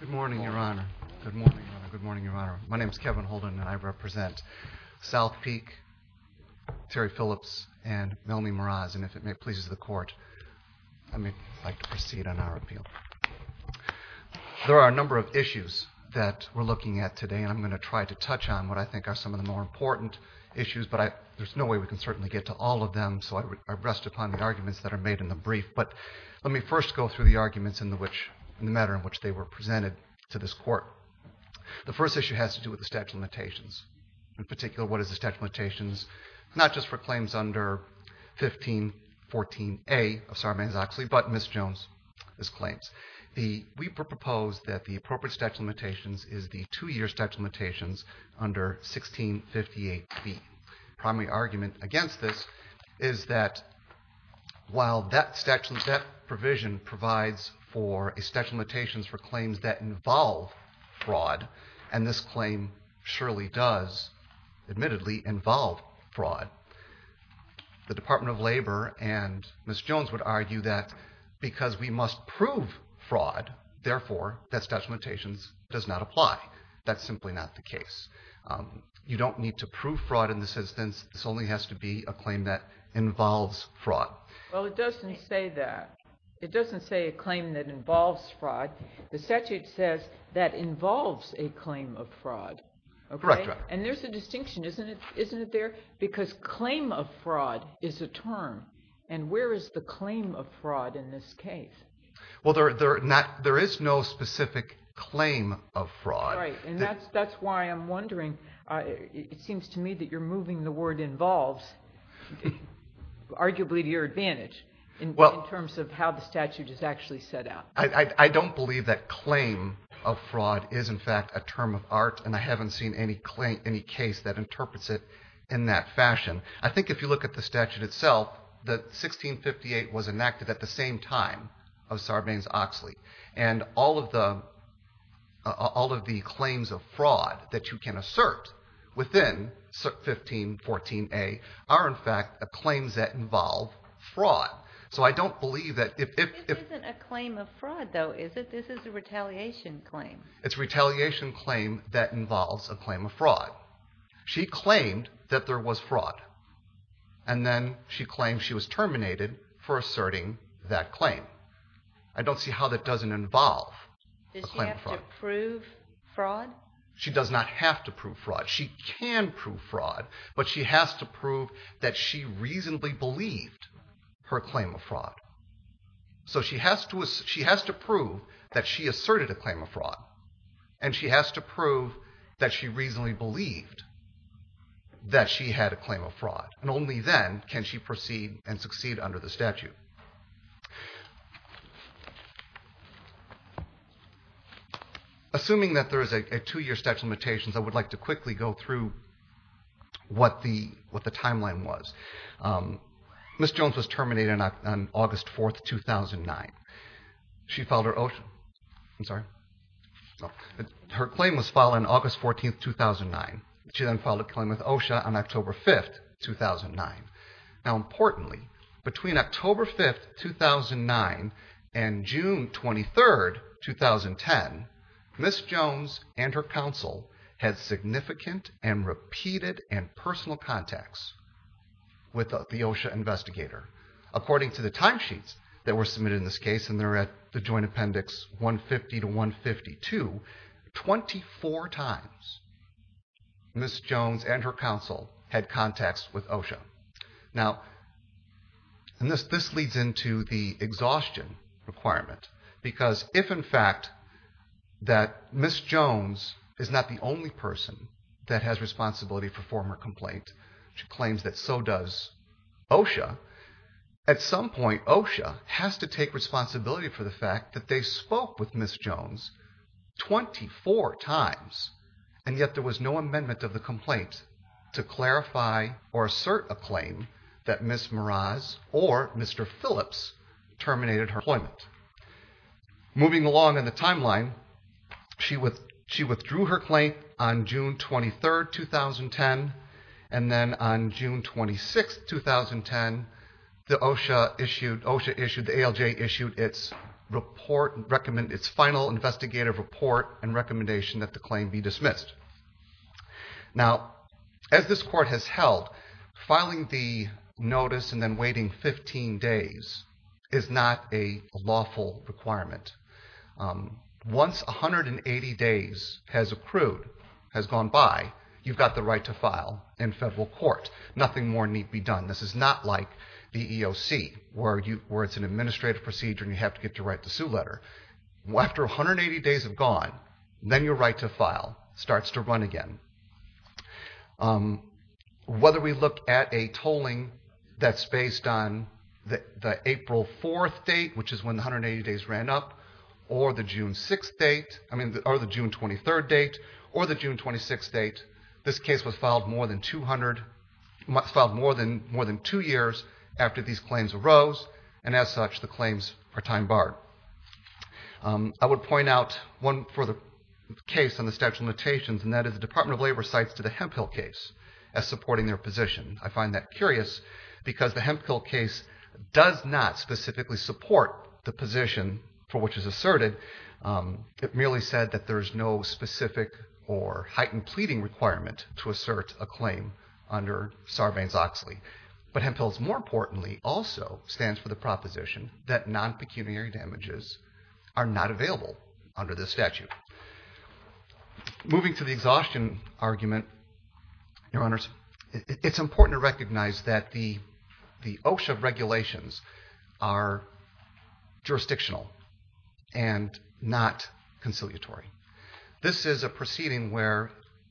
Good morning, Your Honor. Good morning, Your Honor. My name is Kevin Holden, and I represent Southpeak, Terry Phillips, and Melmie Meraz, and if it pleases the Court, I'd like to proceed on our appeal. There are a number of issues that we're looking at today, and I'm going to try to touch on what I think are some of the more important issues, but there's no way we can certainly get to all of them, so I rest upon the arguments that are made in the brief. But let me first go through the arguments in the matter in which they were presented to this Court. The first issue has to do with the statute of limitations. In particular, what is the statute of limitations, not just for claims under 1514A of Sarbanes-Oxley, but Ms. Jones' claims. We propose that the appropriate statute of limitations is the two-year statute of limitations under 1658B. The primary argument against this is that while that provision provides for a statute of limitations for claims that involve fraud, and this claim surely does, admittedly, involve fraud, the Department of Labor and Ms. Jones would argue that because we must prove fraud, therefore, that statute of limitations does not apply. That's simply not the case. You don't need to prove fraud in this instance. This only has to be a claim that involves fraud. Well, it doesn't say that. It doesn't say a claim that involves fraud. The statute says that involves a claim of fraud, okay? Correct. And there's a distinction, isn't it there? Because claim of fraud is a term, and where is the claim of fraud in this case? Well, there is no specific claim of fraud. Right, and that's why I'm wondering. It seems to me that you're moving the word involves arguably to your advantage in terms of how the statute is actually set out. I don't believe that claim of fraud is, in fact, a term of art, and I haven't seen any case that interprets it in that fashion. I think if you look at the statute itself, that 1658 was enacted at the same time of Sarbanes-Oxley, and all of the claims of fraud that you can assert within 1514A are, in fact, claims that involve fraud. So I don't believe that if— This isn't a claim of fraud, though, is it? This is a retaliation claim. It's a retaliation claim that involves a claim of fraud. She claimed that there was fraud, and then she claimed she was terminated for asserting that claim. I don't see how that doesn't involve a claim of fraud. Does she have to prove fraud? She does not have to prove fraud. She can prove fraud, but she has to prove that she reasonably believed her claim of fraud. So she has to prove that she asserted a claim of fraud, and she has to prove that she reasonably believed that she had a claim of fraud, and only then can she proceed and succeed under the statute. Assuming that there is a two-year statute of limitations, I would like to quickly go through what the timeline was. Ms. Jones was terminated on August 4, 2009. She filed her OSHA—I'm sorry. Her claim was filed on August 14, 2009. She then filed a claim with OSHA on October 5, 2009. Now importantly, between October 5, 2009 and June 23, 2010, Ms. Jones and her counsel had significant and repeated and personal contacts with the OSHA investigator. According to the timesheets that were submitted in this case, and they're at the Joint Appendix 150 to 152, 24 times Ms. Jones and her counsel had contacts with OSHA. Now, and this leads into the exhaustion requirement, because if in fact that Ms. Jones is not the only person that has responsibility for former complaint, she claims that so does OSHA, at some point OSHA has to take responsibility for the fact that they spoke with Ms. Jones 24 times, and yet there was no amendment of the complaint to clarify or assert a claim that Ms. Meraz or Mr. Phillips terminated her employment. Moving along in the timeline, she withdrew her claim on June 23, 2010, and then on June 26, 2010, the OSHA issued— an investigative report and recommendation that the claim be dismissed. Now, as this Court has held, filing the notice and then waiting 15 days is not a lawful requirement. Once 180 days has accrued, has gone by, you've got the right to file in federal court. Nothing more need be done. This is not like the EEOC, where it's an administrative procedure and you have to get to write the sue letter. After 180 days have gone, then your right to file starts to run again. Whether we look at a tolling that's based on the April 4th date, which is when the 180 days ran up, or the June 23rd date, or the June 26th date, this case was filed more than two years after these claims arose, and as such, the claims are time-barred. I would point out one further case in the Statute of Limitations, and that is the Department of Labor cites the Hemphill case as supporting their position. I find that curious because the Hemphill case does not specifically support the position for which it is asserted. It merely said that there is no specific or heightened pleading requirement to assert a claim under Sarbanes-Oxley. But Hemphill's more importantly also stands for the proposition that non-pecuniary damages are not available under this statute. Moving to the exhaustion argument, Your Honors, it's important to recognize that the OSHA regulations are jurisdictional and not conciliatory. This is a proceeding where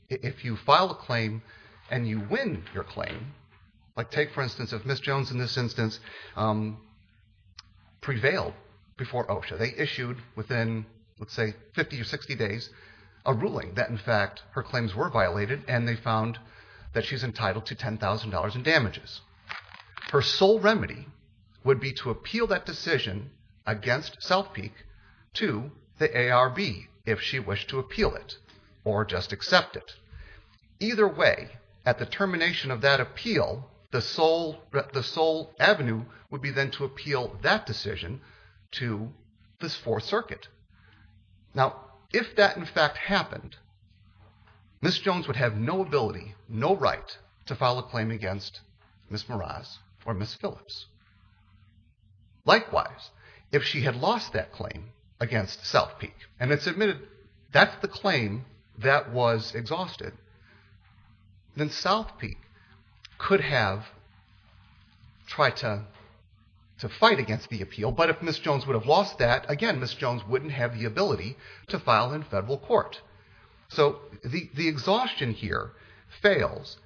if you file a claim and you win your claim, like take for instance if Ms. Jones in this instance prevailed before OSHA. They issued within, let's say, 50 or 60 days a ruling that in fact her claims were violated and they found that she's entitled to $10,000 in damages. Her sole remedy would be to appeal that decision against South Peak to the ARB if she wished to appeal it or just accept it. Either way, at the termination of that appeal, the sole avenue would be then to appeal that decision to this Fourth Circuit. Now, if that in fact happened, Ms. Jones would have no ability, no right, to file a claim against Ms. Meraz or Ms. Phillips. Likewise, if she had lost that claim against South Peak, and it's admitted that's the claim that was exhausted, then South Peak could have tried to fight against the appeal. But if Ms. Jones would have lost that, again, Ms. Jones wouldn't have the ability to file in federal court. So the exhaustion here fails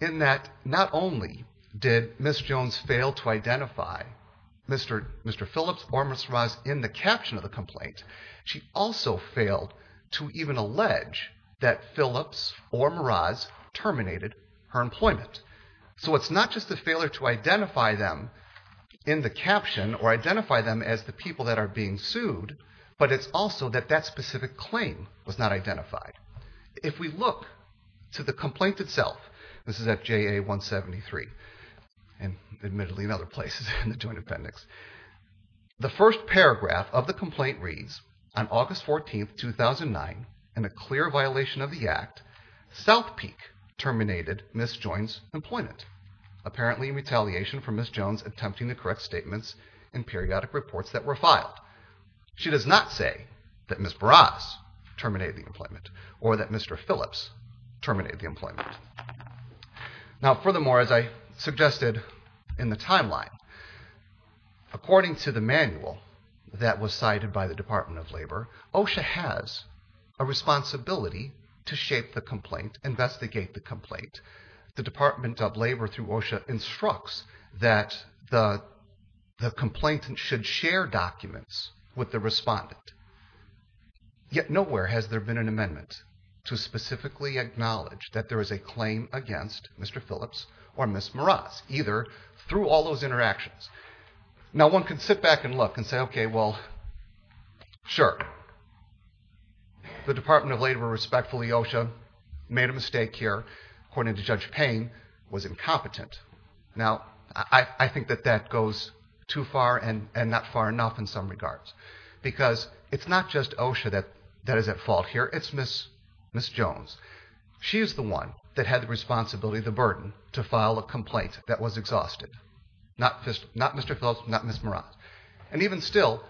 in that not only did Ms. Jones fail to identify Mr. Phillips or Ms. Meraz in the caption of the complaint, she also failed to even allege that Phillips or Meraz terminated her employment. So it's not just a failure to identify them in the caption or identify them as the people that are being sued, but it's also that that specific claim was not identified. If we look to the complaint itself, this is at JA 173, and admittedly in other places in the Joint Appendix, the first paragraph of the complaint reads, On August 14, 2009, in a clear violation of the Act, South Peak terminated Ms. Jones' employment, apparently in retaliation for Ms. Jones attempting to correct statements and periodic reports that were filed. She does not say that Ms. Meraz terminated the employment or that Mr. Phillips terminated the employment. Now furthermore, as I suggested in the timeline, according to the manual that was cited by the Department of Labor, OSHA has a responsibility to shape the complaint, investigate the complaint. The Department of Labor, through OSHA, instructs that the complainant should share documents with the respondent. Yet nowhere has there been an amendment to specifically acknowledge that there is a claim against Mr. Phillips or Ms. Meraz, either through all those interactions. Now one can sit back and look and say, Okay, well, sure, the Department of Labor respectfully OSHA made a mistake here, according to Judge Payne, was incompetent. Now I think that that goes too far and not far enough in some regards, because it's not just OSHA that is at fault here, it's Ms. Jones. She is the one that had the responsibility, the burden, to file a complaint that was exhausted. Not Mr. Phillips, not Ms. Meraz. And even still,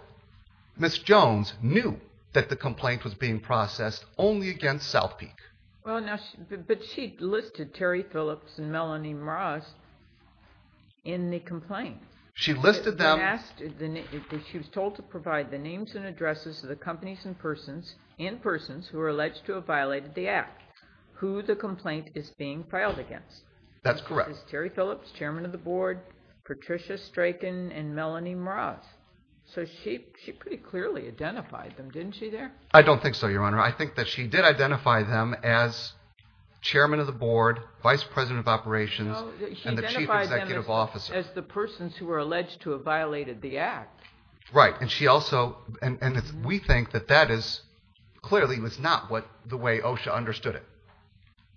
Ms. Jones knew that the complaint was being processed only against South Peak. But she listed Terry Phillips and Melanie Meraz in the complaint. She listed them. She was told to provide the names and addresses of the companies and persons who were alleged to have violated the Act, who the complaint is being filed against. That's correct. Terry Phillips, Chairman of the Board, Patricia Straken, and Melanie Meraz. So she pretty clearly identified them, didn't she there? I don't think so, Your Honor. I think that she did identify them as Chairman of the Board, Vice President of Operations, and the Chief Executive Officer. She identified them as the persons who were alleged to have violated the Act. Right. And we think that that clearly was not the way OSHA understood it.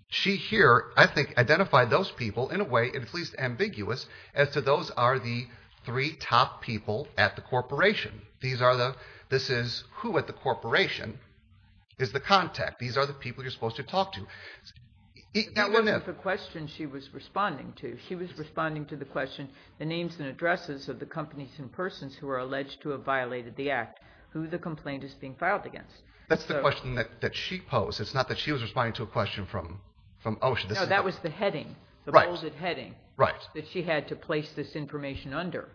She here, I think, identified those people in a way at least ambiguous as to those are the three top people at the corporation. This is who at the corporation is the contact. These are the people you're supposed to talk to. That wasn't the question she was responding to. She was responding to the question, the names and addresses of the companies and persons who were alleged to have violated the Act, who the complaint is being filed against. That's the question that she posed. It's not that she was responding to a question from OSHA. No, that was the heading, the bolded heading, that she had to place this information under.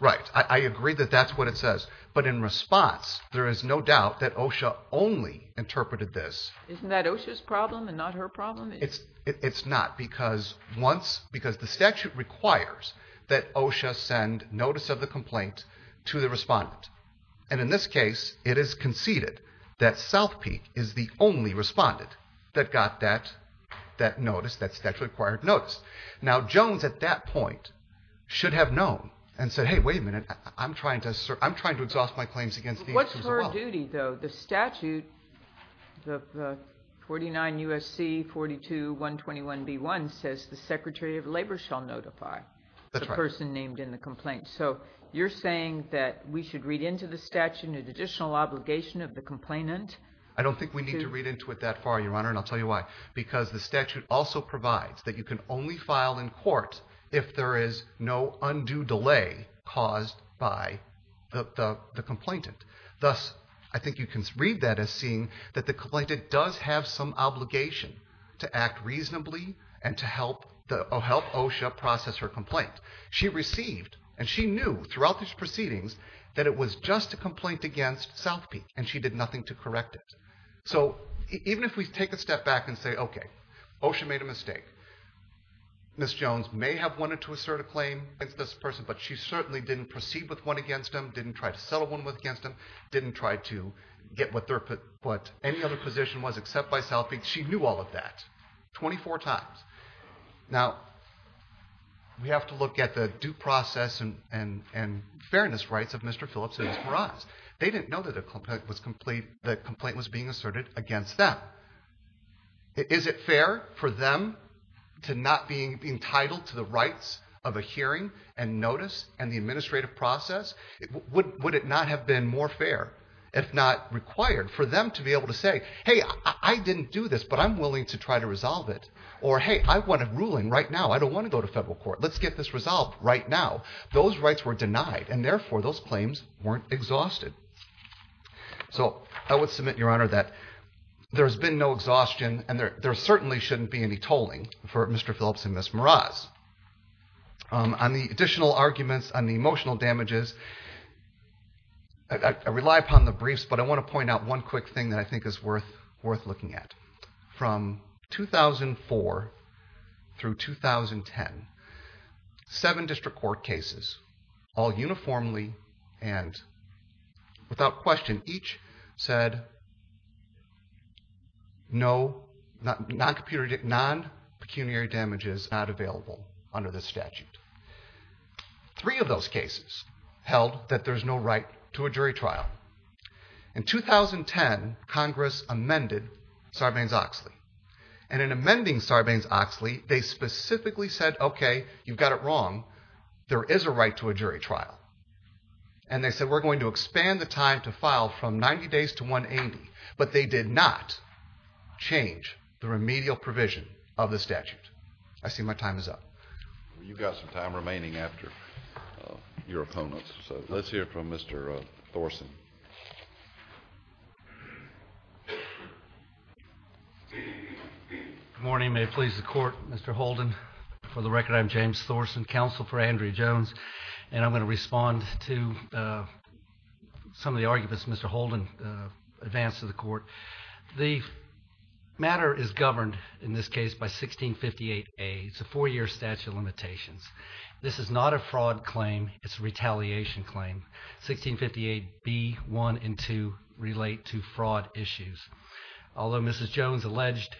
Right. I agree that that's what it says. But in response, there is no doubt that OSHA only interpreted this. Isn't that OSHA's problem and not her problem? It's not. The statute requires that OSHA send notice of the complaint to the respondent. In this case, it is conceded that South Peak is the only respondent that got that notice, that statute-required notice. Now, Jones at that point should have known and said, hey, wait a minute, I'm trying to exhaust my claims against these people. What's her duty, though? The statute, 49 U.S.C. 42.121.B.1, says the Secretary of Labor shall notify the person named in the complaint. So you're saying that we should read into the statute an additional obligation of the complainant? I don't think we need to read into it that far, Your Honor, and I'll tell you why. Because the statute also provides that you can only file in court if there is no undue delay caused by the complainant. Thus, I think you can read that as seeing that the complainant does have some obligation to act reasonably and to help OSHA process her complaint. She received, and she knew throughout these proceedings, that it was just a complaint against South Peak, and she did nothing to correct it. So even if we take a step back and say, okay, OSHA made a mistake, Ms. Jones may have wanted to assert a claim against this person, but she certainly didn't proceed with one against them, didn't try to settle one against them, didn't try to get what any other position was except by South Peak. She knew all of that 24 times. Now, we have to look at the due process and fairness rights of Mr. Phillips and Ms. Meraz. They didn't know that the complaint was being asserted against them. Is it fair for them to not be entitled to the rights of a hearing and notice and the administrative process? Would it not have been more fair, if not required, for them to be able to say, hey, I didn't do this, but I'm willing to try to resolve it. Or, hey, I want a ruling right now. I don't want to go to federal court. Let's get this resolved right now. Those rights were denied, and therefore those claims weren't exhausted. So I would submit, Your Honor, that there's been no exhaustion, and there certainly shouldn't be any tolling for Mr. Phillips and Ms. Meraz. On the additional arguments, on the emotional damages, I rely upon the briefs, but I want to point out one quick thing that I think is worth looking at. From 2004 through 2010, seven district court cases, all uniformly and without question, each said non-pecuniary damages not available under the statute. Three of those cases held that there's no right to a jury trial. In 2010, Congress amended Sarbanes-Oxley, and in amending Sarbanes-Oxley, they specifically said, okay, you've got it wrong. There is a right to a jury trial. And they said, we're going to expand the time to file from 90 days to 180, but they did not change the remedial provision of the statute. I see my time is up. You've got some time remaining after your opponents, so let's hear from Mr. Thorsen. Good morning. May it please the Court. Mr. Holden, for the record, I'm James Thorsen, counsel for Andrea Jones, and I'm going to respond to some of the arguments Mr. Holden advanced to the Court. The matter is governed, in this case, by 1658A. It's a four-year statute of limitations. This is not a fraud claim. It's a retaliation claim. 1658B, 1, and 2 relate to fraud issues. Although Mrs. Jones alleged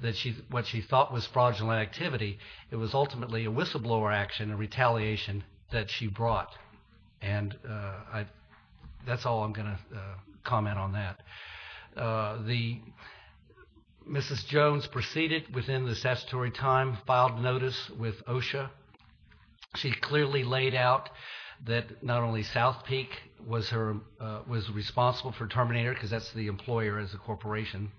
that what she thought was fraudulent activity, it was ultimately a whistleblower action, a retaliation that she brought. And that's all I'm going to comment on that. Mrs. Jones proceeded within the statutory time, filed notice with OSHA. She clearly laid out that not only South Peak was responsible for Terminator, because that's the employer's corporation,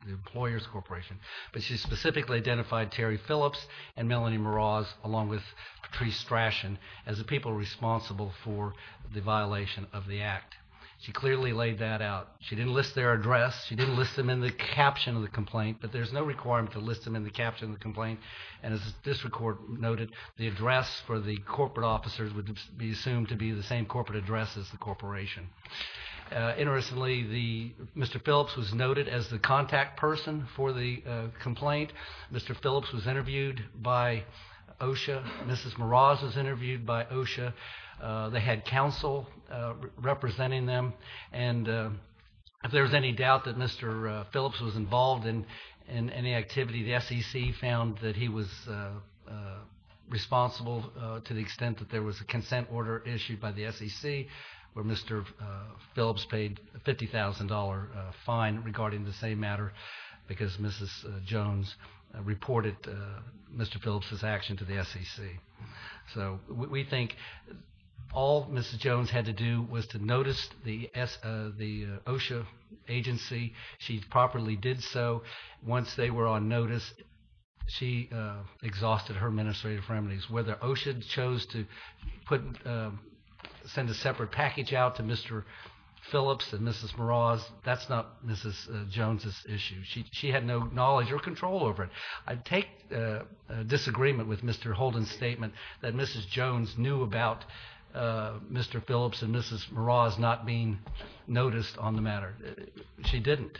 but she specifically identified Terry Phillips and Melanie Meraz, along with Patrice Strachan, as the people responsible for the violation of the act. She clearly laid that out. She didn't list their address. She didn't list them in the caption of the complaint, but there's no requirement to list them in the caption of the complaint. And as the District Court noted, the address for the corporate officers would be assumed to be the same corporate address as the corporation. Interestingly, Mr. Phillips was noted as the contact person for the complaint. Mr. Phillips was interviewed by OSHA. Mrs. Meraz was interviewed by OSHA. They had counsel representing them. And if there's any doubt that Mr. Phillips was involved in any activity, the SEC found that he was responsible to the extent that there was a consent order issued by the SEC where Mr. Phillips paid a $50,000 fine regarding the same matter because Mrs. Jones reported Mr. Phillips' action to the SEC. So we think all Mrs. Jones had to do was to notice the OSHA agency. She properly did so. Once they were on notice, she exhausted her administrative remedies. Whether OSHA chose to send a separate package out to Mr. Phillips and Mrs. Meraz, that's not Mrs. Jones' issue. She had no knowledge or control over it. I take disagreement with Mr. Holden's statement that Mrs. Jones knew about Mr. Phillips and Mrs. Meraz not being noticed on the matter. She didn't.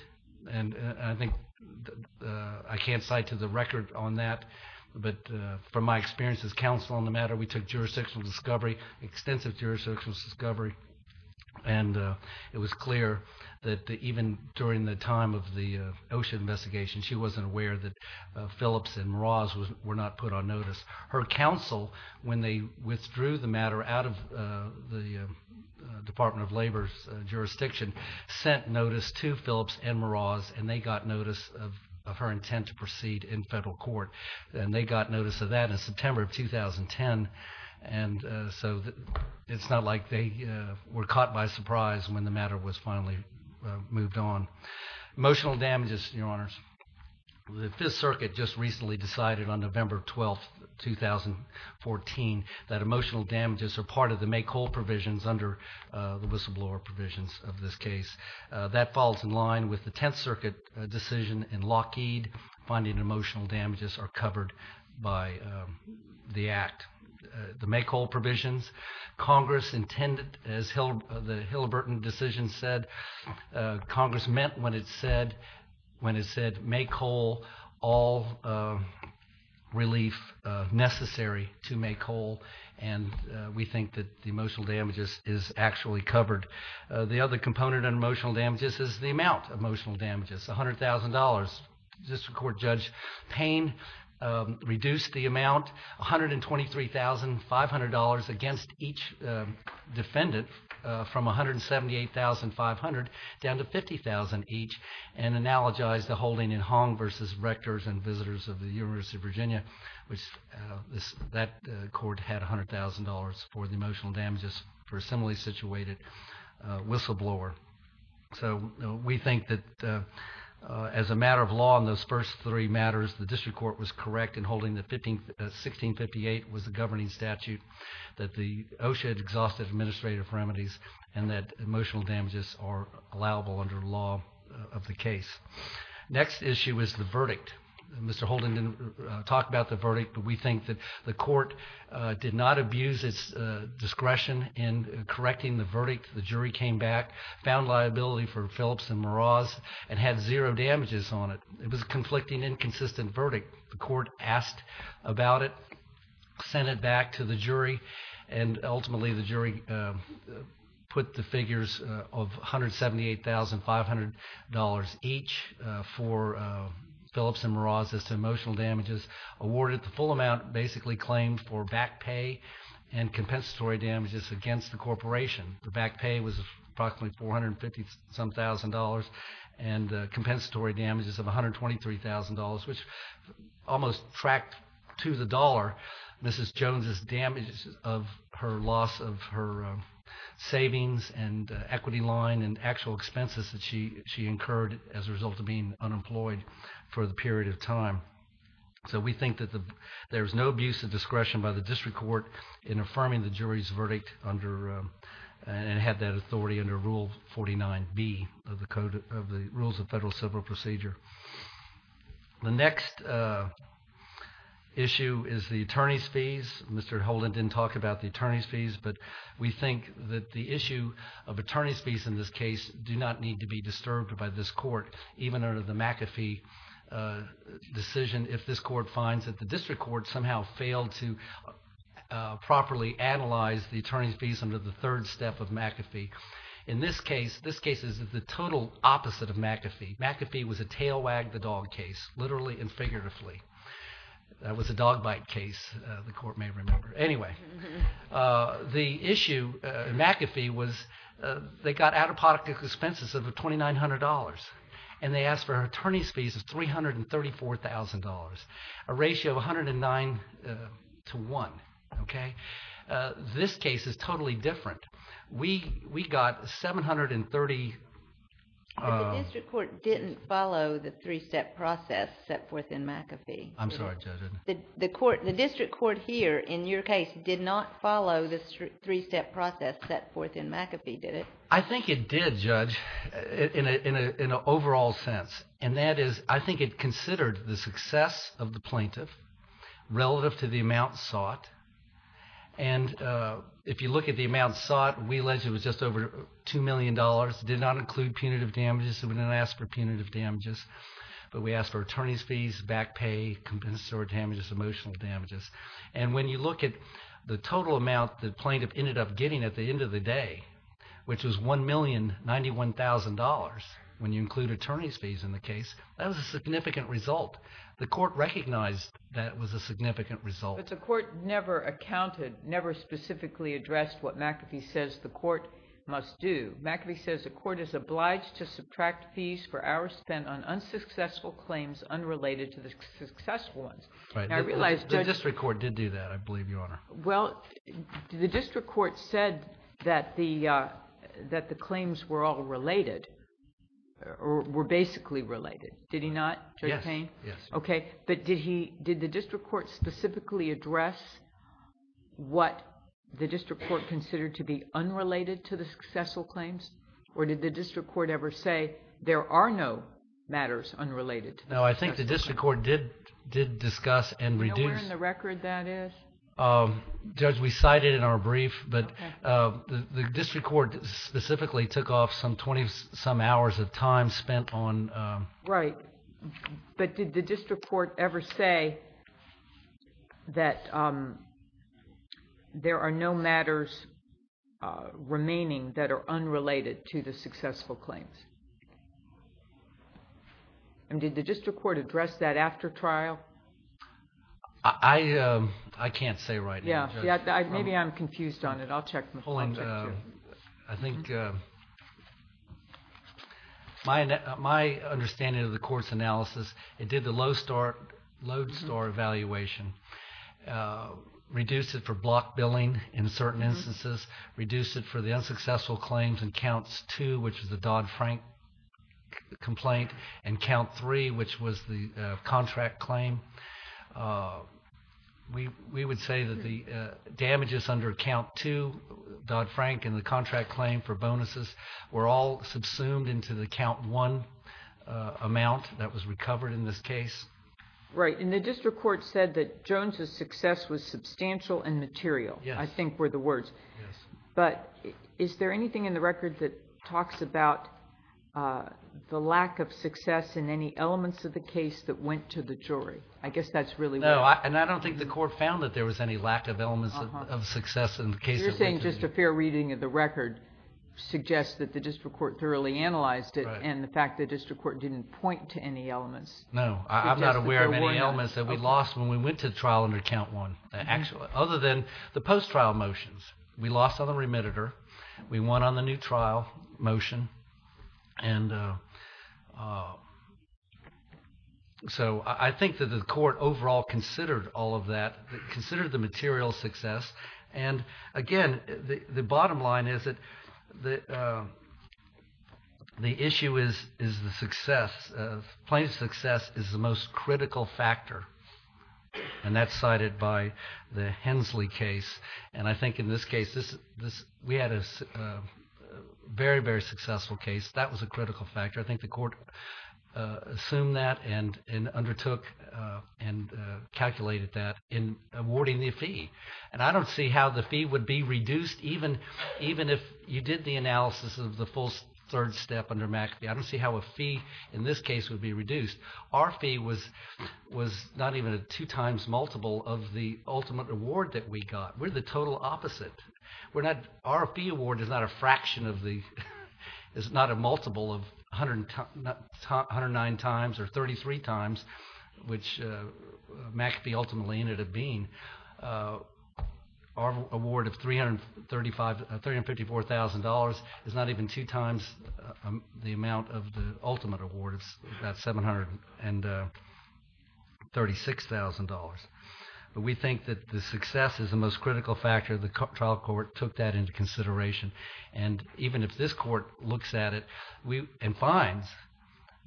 And I think I can't cite to the record on that, but from my experience as counsel on the matter, we took jurisdictional discovery, extensive jurisdictional discovery, and it was clear that even during the time of the OSHA investigation, she wasn't aware that Phillips and Meraz were not put on notice. Her counsel, when they withdrew the matter out of the Department of Labor's jurisdiction, sent notice to Phillips and Meraz, and they got notice of her intent to proceed in federal court. And they got notice of that in September of 2010, and so it's not like they were caught by surprise when the matter was finally moved on. Emotional damages, Your Honors. The Fifth Circuit just recently decided on November 12, 2014, that emotional damages are part of the make-all provisions under the whistleblower provisions of this case. That falls in line with the Tenth Circuit decision in Lockheed, finding emotional damages are covered by the act. The make-all provisions, Congress intended, as the Hilleberton decision said, Congress meant when it said make-all, all relief necessary to make-all, and we think that the emotional damages is actually covered. The other component of emotional damages is the amount of emotional damages, $100,000. District Court Judge Payne reduced the amount, $123,500, against each defendant from $178,500 down to $50,000 each, and analogized the holding in Hong v. Rectors and Visitors of the University of Virginia. That court had $100,000 for the emotional damages for a similarly situated whistleblower. So we think that as a matter of law in those first three matters, the District Court was correct in holding that 1658 was the governing statute, that the OSHA had exhausted administrative remedies, and that emotional damages are allowable under law of the case. Next issue is the verdict. Mr. Holden didn't talk about the verdict, but we think that the court did not abuse its discretion in correcting the verdict. The jury came back, found liability for Phillips and Meraz, and had zero damages on it. It was a conflicting, inconsistent verdict. The court asked about it, sent it back to the jury, and ultimately the jury put the figures of $178,500 each for Phillips and Meraz as to emotional damages, awarded the full amount basically claimed for back pay and compensatory damages against the corporation. The back pay was approximately $450,000 and compensatory damages of $123,000, which almost tracked to the dollar Mrs. Jones' damage of her loss of her savings and equity line and actual expenses that she incurred as a result of being unemployed for the period of time. So we think that there was no abuse of discretion by the District Court in affirming the jury's verdict and had that authority under Rule 49B of the Rules of Federal Civil Procedure. The next issue is the attorney's fees. Mr. Holden didn't talk about the attorney's fees, but we think that the issue of attorney's fees in this case do not need to be disturbed by this court, even under the McAfee decision, if this court finds that the District Court somehow failed to properly analyze the attorney's fees under the third step of McAfee. In this case, this case is the total opposite of McAfee. McAfee was a tail wag the dog case, literally and figuratively. That was a dog bite case, the court may remember. Anyway, the issue in McAfee was they got out-of-product expenses of $2,900 and they asked for attorney's fees of $334,000, a ratio of 109 to 1. This case is totally different. We got 730... The District Court didn't follow the three-step process set forth in McAfee. I'm sorry, Judge. The District Court here, in your case, did not follow the three-step process set forth in McAfee, did it? I think it did, Judge, in an overall sense. That is, I think it considered the success of the plaintiff relative to the amount sought. If you look at the amount sought, we allege it was just over $2 million. It did not include punitive damages. We didn't ask for punitive damages, but we asked for attorney's fees, back pay, compensatory damages, emotional damages. When you look at the total amount the plaintiff ended up getting at the end of the day, which was $1,091,000, when you include attorney's fees in the case, that was a significant result. The court recognized that was a significant result. But the court never accounted, never specifically addressed what McAfee says the court must do. McAfee says the court is obliged to subtract fees for hours spent on unsuccessful claims unrelated to the successful ones. The District Court did do that, I believe, Your Honor. Well, the District Court said that the claims were all related, or were basically related. Did he not, Judge Payne? Yes. Okay, but did the District Court specifically address what the District Court considered to be unrelated to the successful claims? Or did the District Court ever say there are no matters unrelated to the successful claims? No, I think the District Court did discuss and reduce... Can you return the record, that is? Judge, we cite it in our brief, but the District Court specifically took off some 20-some hours of time spent on... Right. But did the District Court ever say that there are no matters remaining that are unrelated to the successful claims? And did the District Court address that after trial? I can't say right now, Judge. Yeah, maybe I'm confused on it. I'll check. Hold on. I think my understanding of the court's analysis, it did the Lodestar evaluation, reduced it for block billing in certain instances, reduced it for the unsuccessful claims in Counts 2, which is the Dodd-Frank complaint, and Count 3, which was the contract claim. We would say that the damages under Count 2, Dodd-Frank, and the contract claim for bonuses were all subsumed into the Count 1 amount that was recovered in this case. Right, and the District Court said that Jones's success was substantial and material, I think were the words. Yes. But is there anything in the record that talks about the lack of success in any elements of the case that went to the jury? I guess that's really what... No, and I don't think the court found that there was any lack of elements of success in the case... You're saying just a fair reading of the record suggests that the District Court thoroughly analyzed it and the fact that the District Court didn't point to any elements... No, I'm not aware of any elements that we lost when we went to trial under Count 1, other than the post-trial motions. We lost on the remittitor. We won on the new trial motion. And so I think that the court overall considered all of that, considered the material success. And again, the bottom line is that the issue is the success, plaintiff's success is the most critical factor. And that's cited by the Hensley case. And I think in this case, we had a very, very successful case. That was a critical factor. I think the court assumed that and undertook and calculated that in awarding the fee. And I don't see how the fee would be reduced, even if you did the analysis of the full third step under Mackey. I don't see how a fee in this case would be reduced. Our fee was not even a two times multiple of the ultimate award that we got. We're the total opposite. Our fee award is not a multiple of 109 times or 33 times, which Mackey ultimately ended up being. Our award of $354,000 is not even two times the amount of the ultimate award of that $736,000. But we think that the success is the most critical factor. The trial court took that into consideration. And even if this court looks at it and finds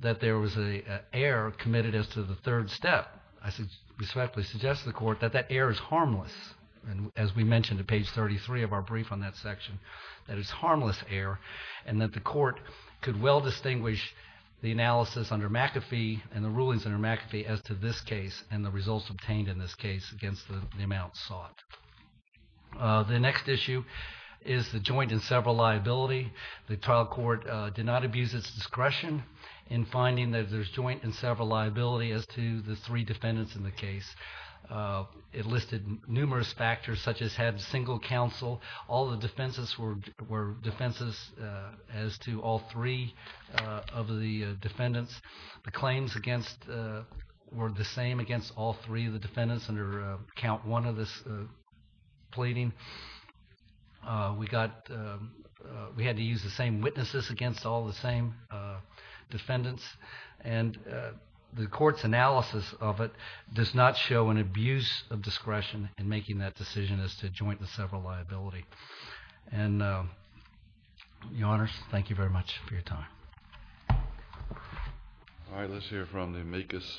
that there was an error committed as to the third step, I respectfully suggest to the court that that error is harmless. And as we mentioned at page 33 of our brief on that section, that it's harmless error and that the court could well distinguish the analysis under McAfee and the rulings under McAfee as to this case and the results obtained in this case against the amount sought. The next issue is the joint and several liability. The trial court did not abuse its discretion in finding that there's joint and several liability as to the three defendants in the case. It listed numerous factors, such as had single counsel. All the defenses were defenses as to all three of the defendants. The claims against were the same against all three of the defendants under count one of this pleading. We had to use the same witnesses against all the same defendants. And the court's analysis of it does not show an abuse of discretion in making that decision as to joint and several liability. And, Your Honors, thank you very much for your time. All right, let's hear from the amicus.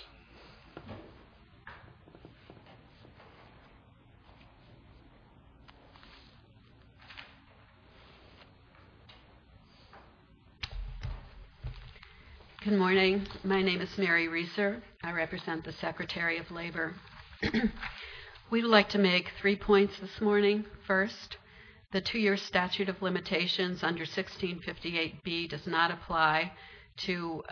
Good morning. My name is Mary Reser. I represent the Secretary of Labor. We'd like to make three points this morning. First, the two-year statute of limitations under 1658B does not apply to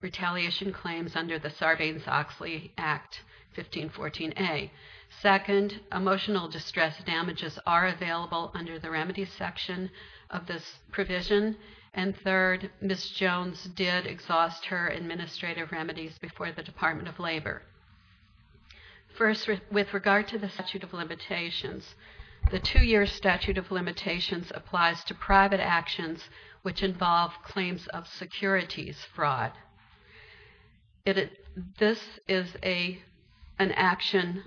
retaliation claims under the Sarbanes-Oxley Act, 1514A. Second, emotional distress damages are available under the remedies section of this provision. And third, Ms. Jones did exhaust her administrative remedies before the Department of Labor. First, with regard to the statute of limitations, the two-year statute of limitations applies to private actions which involve claims of securities fraud. This is an action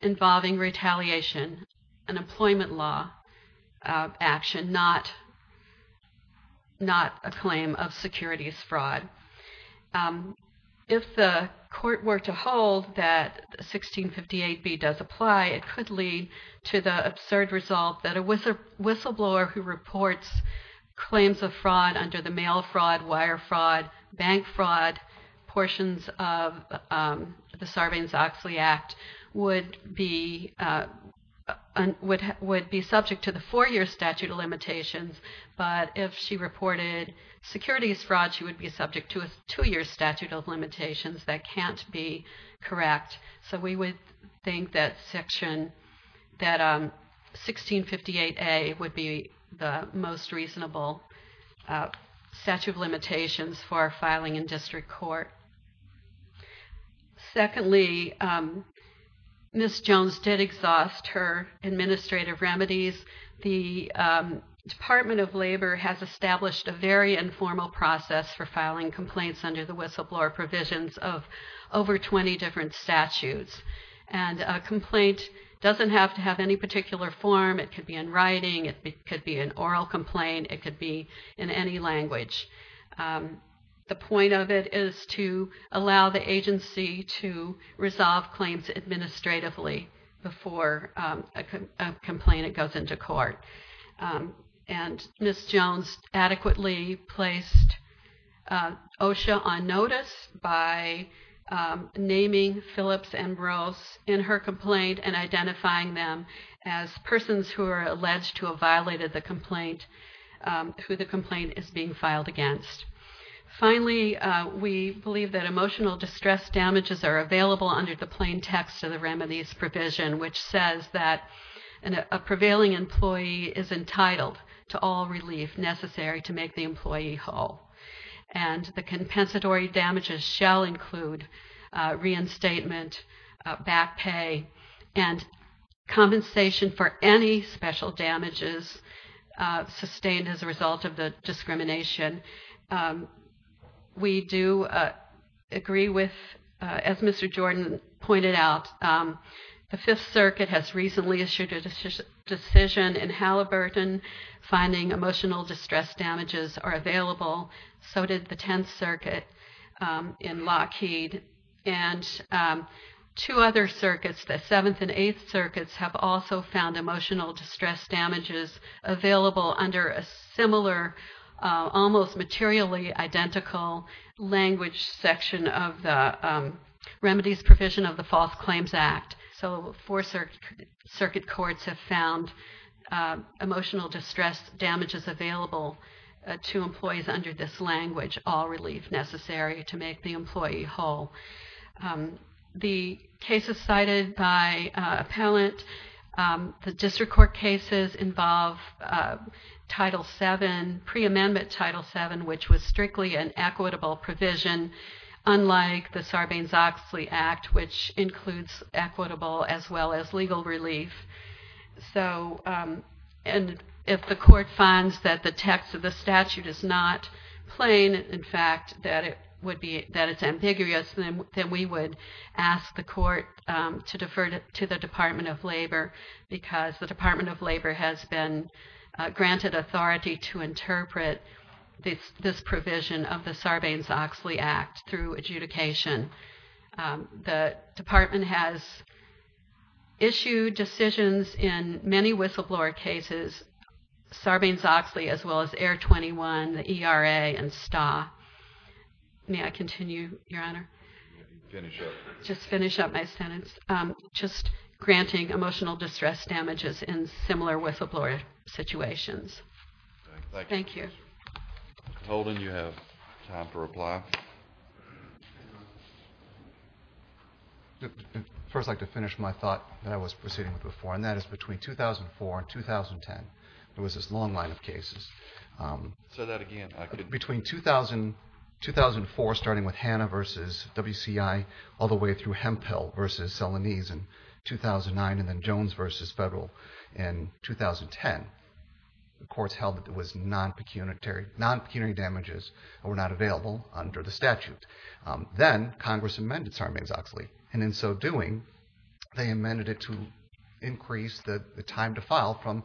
involving retaliation, an employment law action, not a claim of securities fraud. If the court were to hold that 1658B does apply, it could lead to the absurd result that a whistleblower who reports claims of fraud under the mail fraud, wire fraud, bank fraud portions of the Sarbanes-Oxley Act would be subject to the four-year statute of limitations. But if she reported securities fraud, she would be subject to a two-year statute of limitations. That can't be correct. So we would think that 1658A would be the most reasonable statute of limitations for filing in district court. Secondly, Ms. Jones did exhaust her administrative remedies. The Department of Labor has established a very informal process for filing complaints under the whistleblower provisions of over 20 different statutes. And a complaint doesn't have to have any particular form. It could be in writing. It could be an oral complaint. It could be in any language. The point of it is to allow the agency to resolve claims administratively before a complaint goes into court. And Ms. Jones adequately placed OSHA on notice by naming Phillips and Rose in her complaint and identifying them as persons who are alleged to have violated the complaint, who the complaint is being filed against. Finally, we believe that emotional distress damages are available under the main text of the remedies provision, which says that a prevailing employee is entitled to all relief necessary to make the employee whole. And the compensatory damages shall include reinstatement, back pay, and compensation for any special damages sustained as a result of the discrimination. We do agree with, as Mr. Jordan pointed out, the Fifth Circuit has recently issued a decision in Halliburton finding emotional distress damages are available. So did the Tenth Circuit in Lockheed. And two other circuits, the Seventh and Eighth Circuits, have also found emotional distress damages available under a similar, almost materially identical language section of the remedies provision of the False Claims Act. So four circuit courts have found emotional distress damages available to employees under this language, all relief necessary to make the employee whole. The cases cited by appellant, the district court cases involve Title VII and pre-amendment Title VII, which was strictly an equitable provision, unlike the Sarbanes-Oxley Act, which includes equitable as well as legal relief. So if the court finds that the text of the statute is not plain, in fact, that it's ambiguous, then we would ask the court to defer to the Department of Labor because the Department of Labor has been granted authority to interpret this provision of the Sarbanes-Oxley Act through adjudication. The department has issued decisions in many whistleblower cases, Sarbanes-Oxley as well as Air 21, the ERA and STA. May I continue, Your Honor? Finish up. Just finish up my sentence. Just granting emotional distress damages in similar whistleblower situations. Thank you. Holden, you have time to reply. I'd first like to finish my thought that I was proceeding with before, and that is between 2004 and 2010, there was this long line of cases. Say that again. Between 2004, starting with Hanna versus WCI, all the way through Hemphill versus Salonese in 2009, and then Jones versus Federal in 2010, the courts held that there was non-pecuniary damages that were not available under the statute. Then Congress amended Sarbanes-Oxley, and in so doing, they amended it to increase the time to file from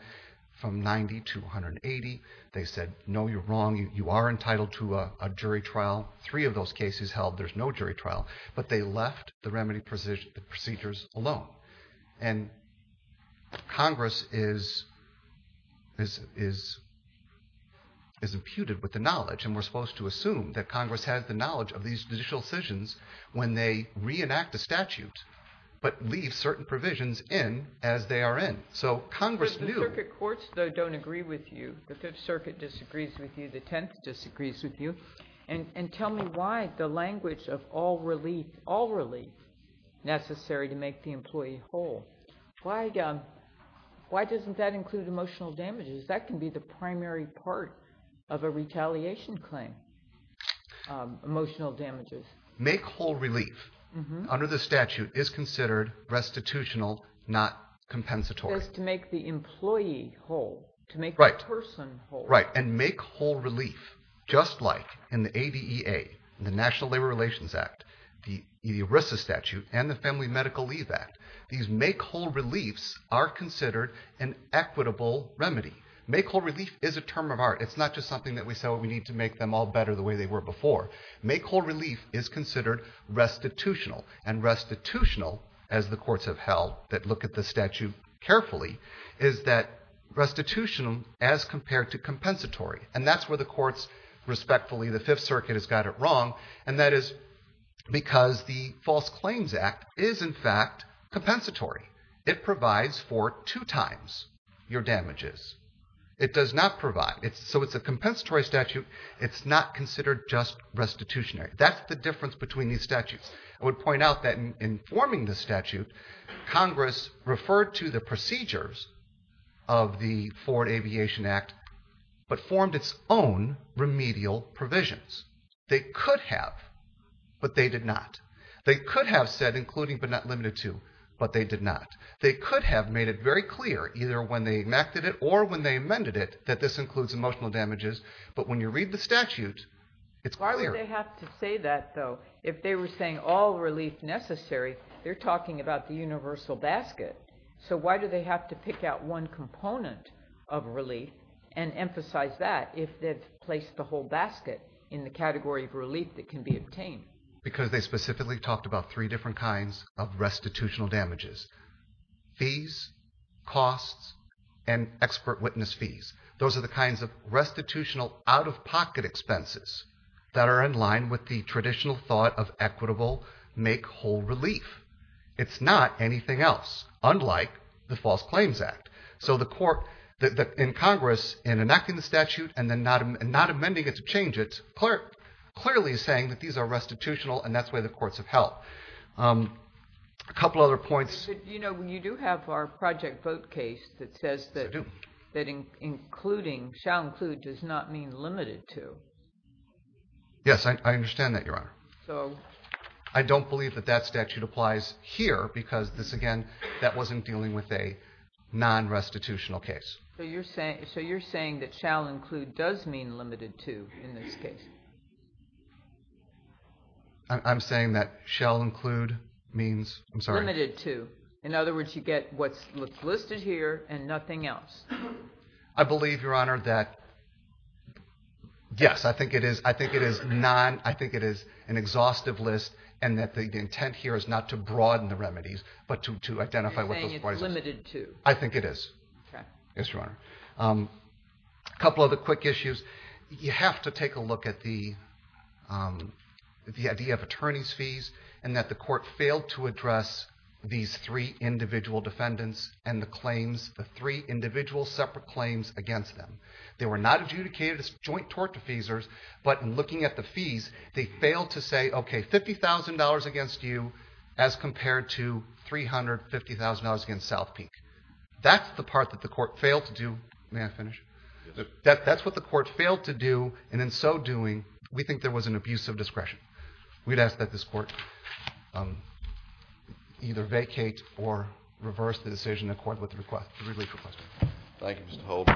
90 to 180. They said, no, you're wrong, you are entitled to a jury trial. Three of those cases held, there's no jury trial. But they left the remedy procedures alone. And Congress is imputed with the knowledge, and we're supposed to assume that Congress has the knowledge of these judicial decisions when they reenact a statute, but leave certain provisions in as they are in. But the circuit courts, though, don't agree with you. The Fifth Circuit disagrees with you. The Tenth disagrees with you. And tell me why the language of all relief, all relief necessary to make the employee whole, why doesn't that include emotional damages? That can be the primary part of a retaliation claim, emotional damages. Make whole relief under the statute is considered restitutional, not compensatory. It's to make the employee whole, to make the person whole. Right, and make whole relief, just like in the ADEA, the National Labor Relations Act, the ERISA statute, and the Family Medical Leave Act. These make whole reliefs are considered an equitable remedy. Make whole relief is a term of art. It's not just something that we say, well, we need to make them all better the way they were before. Make whole relief is considered restitutional, and restitutional, as the courts have held, that look at the statute carefully, is that restitutional as compared to compensatory. And that's where the courts, respectfully, the Fifth Circuit has got it wrong, and that is because the False Claims Act is, in fact, compensatory. It provides for two times your damages. It does not provide. So it's a compensatory statute. It's not considered just restitutionary. That's the difference between these statutes. I would point out that in forming the statute, Congress referred to the procedures of the Foreign Aviation Act, but formed its own remedial provisions. They could have, but they did not. They could have said, including but not limited to, but they did not. They could have made it very clear, either when they enacted it or when they amended it, that this includes emotional damages, but when you read the statute, it's clear. Why do they have to say that, though? If they were saying all relief necessary, they're talking about the universal basket. So why do they have to pick out one component of relief and emphasize that if they've placed the whole basket in the category of relief that can be obtained? Because they specifically talked about three different kinds of restitutional damages, fees, costs, and expert witness fees. Those are the kinds of restitutional out-of-pocket expenses that are in line with the traditional thought of equitable make-whole relief. It's not anything else, unlike the False Claims Act. So the court in Congress, in enacting the statute and then not amending it to change it, clearly is saying that these are restitutional, and that's why the courts have held. A couple other points. You do have our project vote case that says that including, shall include, does not mean limited to. Yes, I understand that, Your Honor. I don't believe that that statute applies here because, again, that wasn't dealing with a non-restitutional case. So you're saying that shall include does mean limited to in this case? I'm saying that shall include means... Limited to. In other words, you get what's listed here and nothing else. I believe, Your Honor, that... Yes, I think it is an exhaustive list and that the intent here is not to broaden the remedies but to identify what those remedies are. You're saying it's limited to. I think it is. Okay. Yes, Your Honor. A couple other quick issues. You have to take a look at the idea of attorney's fees and that the court failed to address these three individual defendants and the claims, the three individual separate claims against them. They were not adjudicated as joint tort defeasors but in looking at the fees, they failed to say, okay, $50,000 against you as compared to $350,000 against South Peak. That's the part that the court failed to do. May I finish? That's what the court failed to do and in so doing, we think there was an abuse of discretion. We'd ask that this court either vacate or reverse the decision according to the relief request. Thank you, Mr. Holt.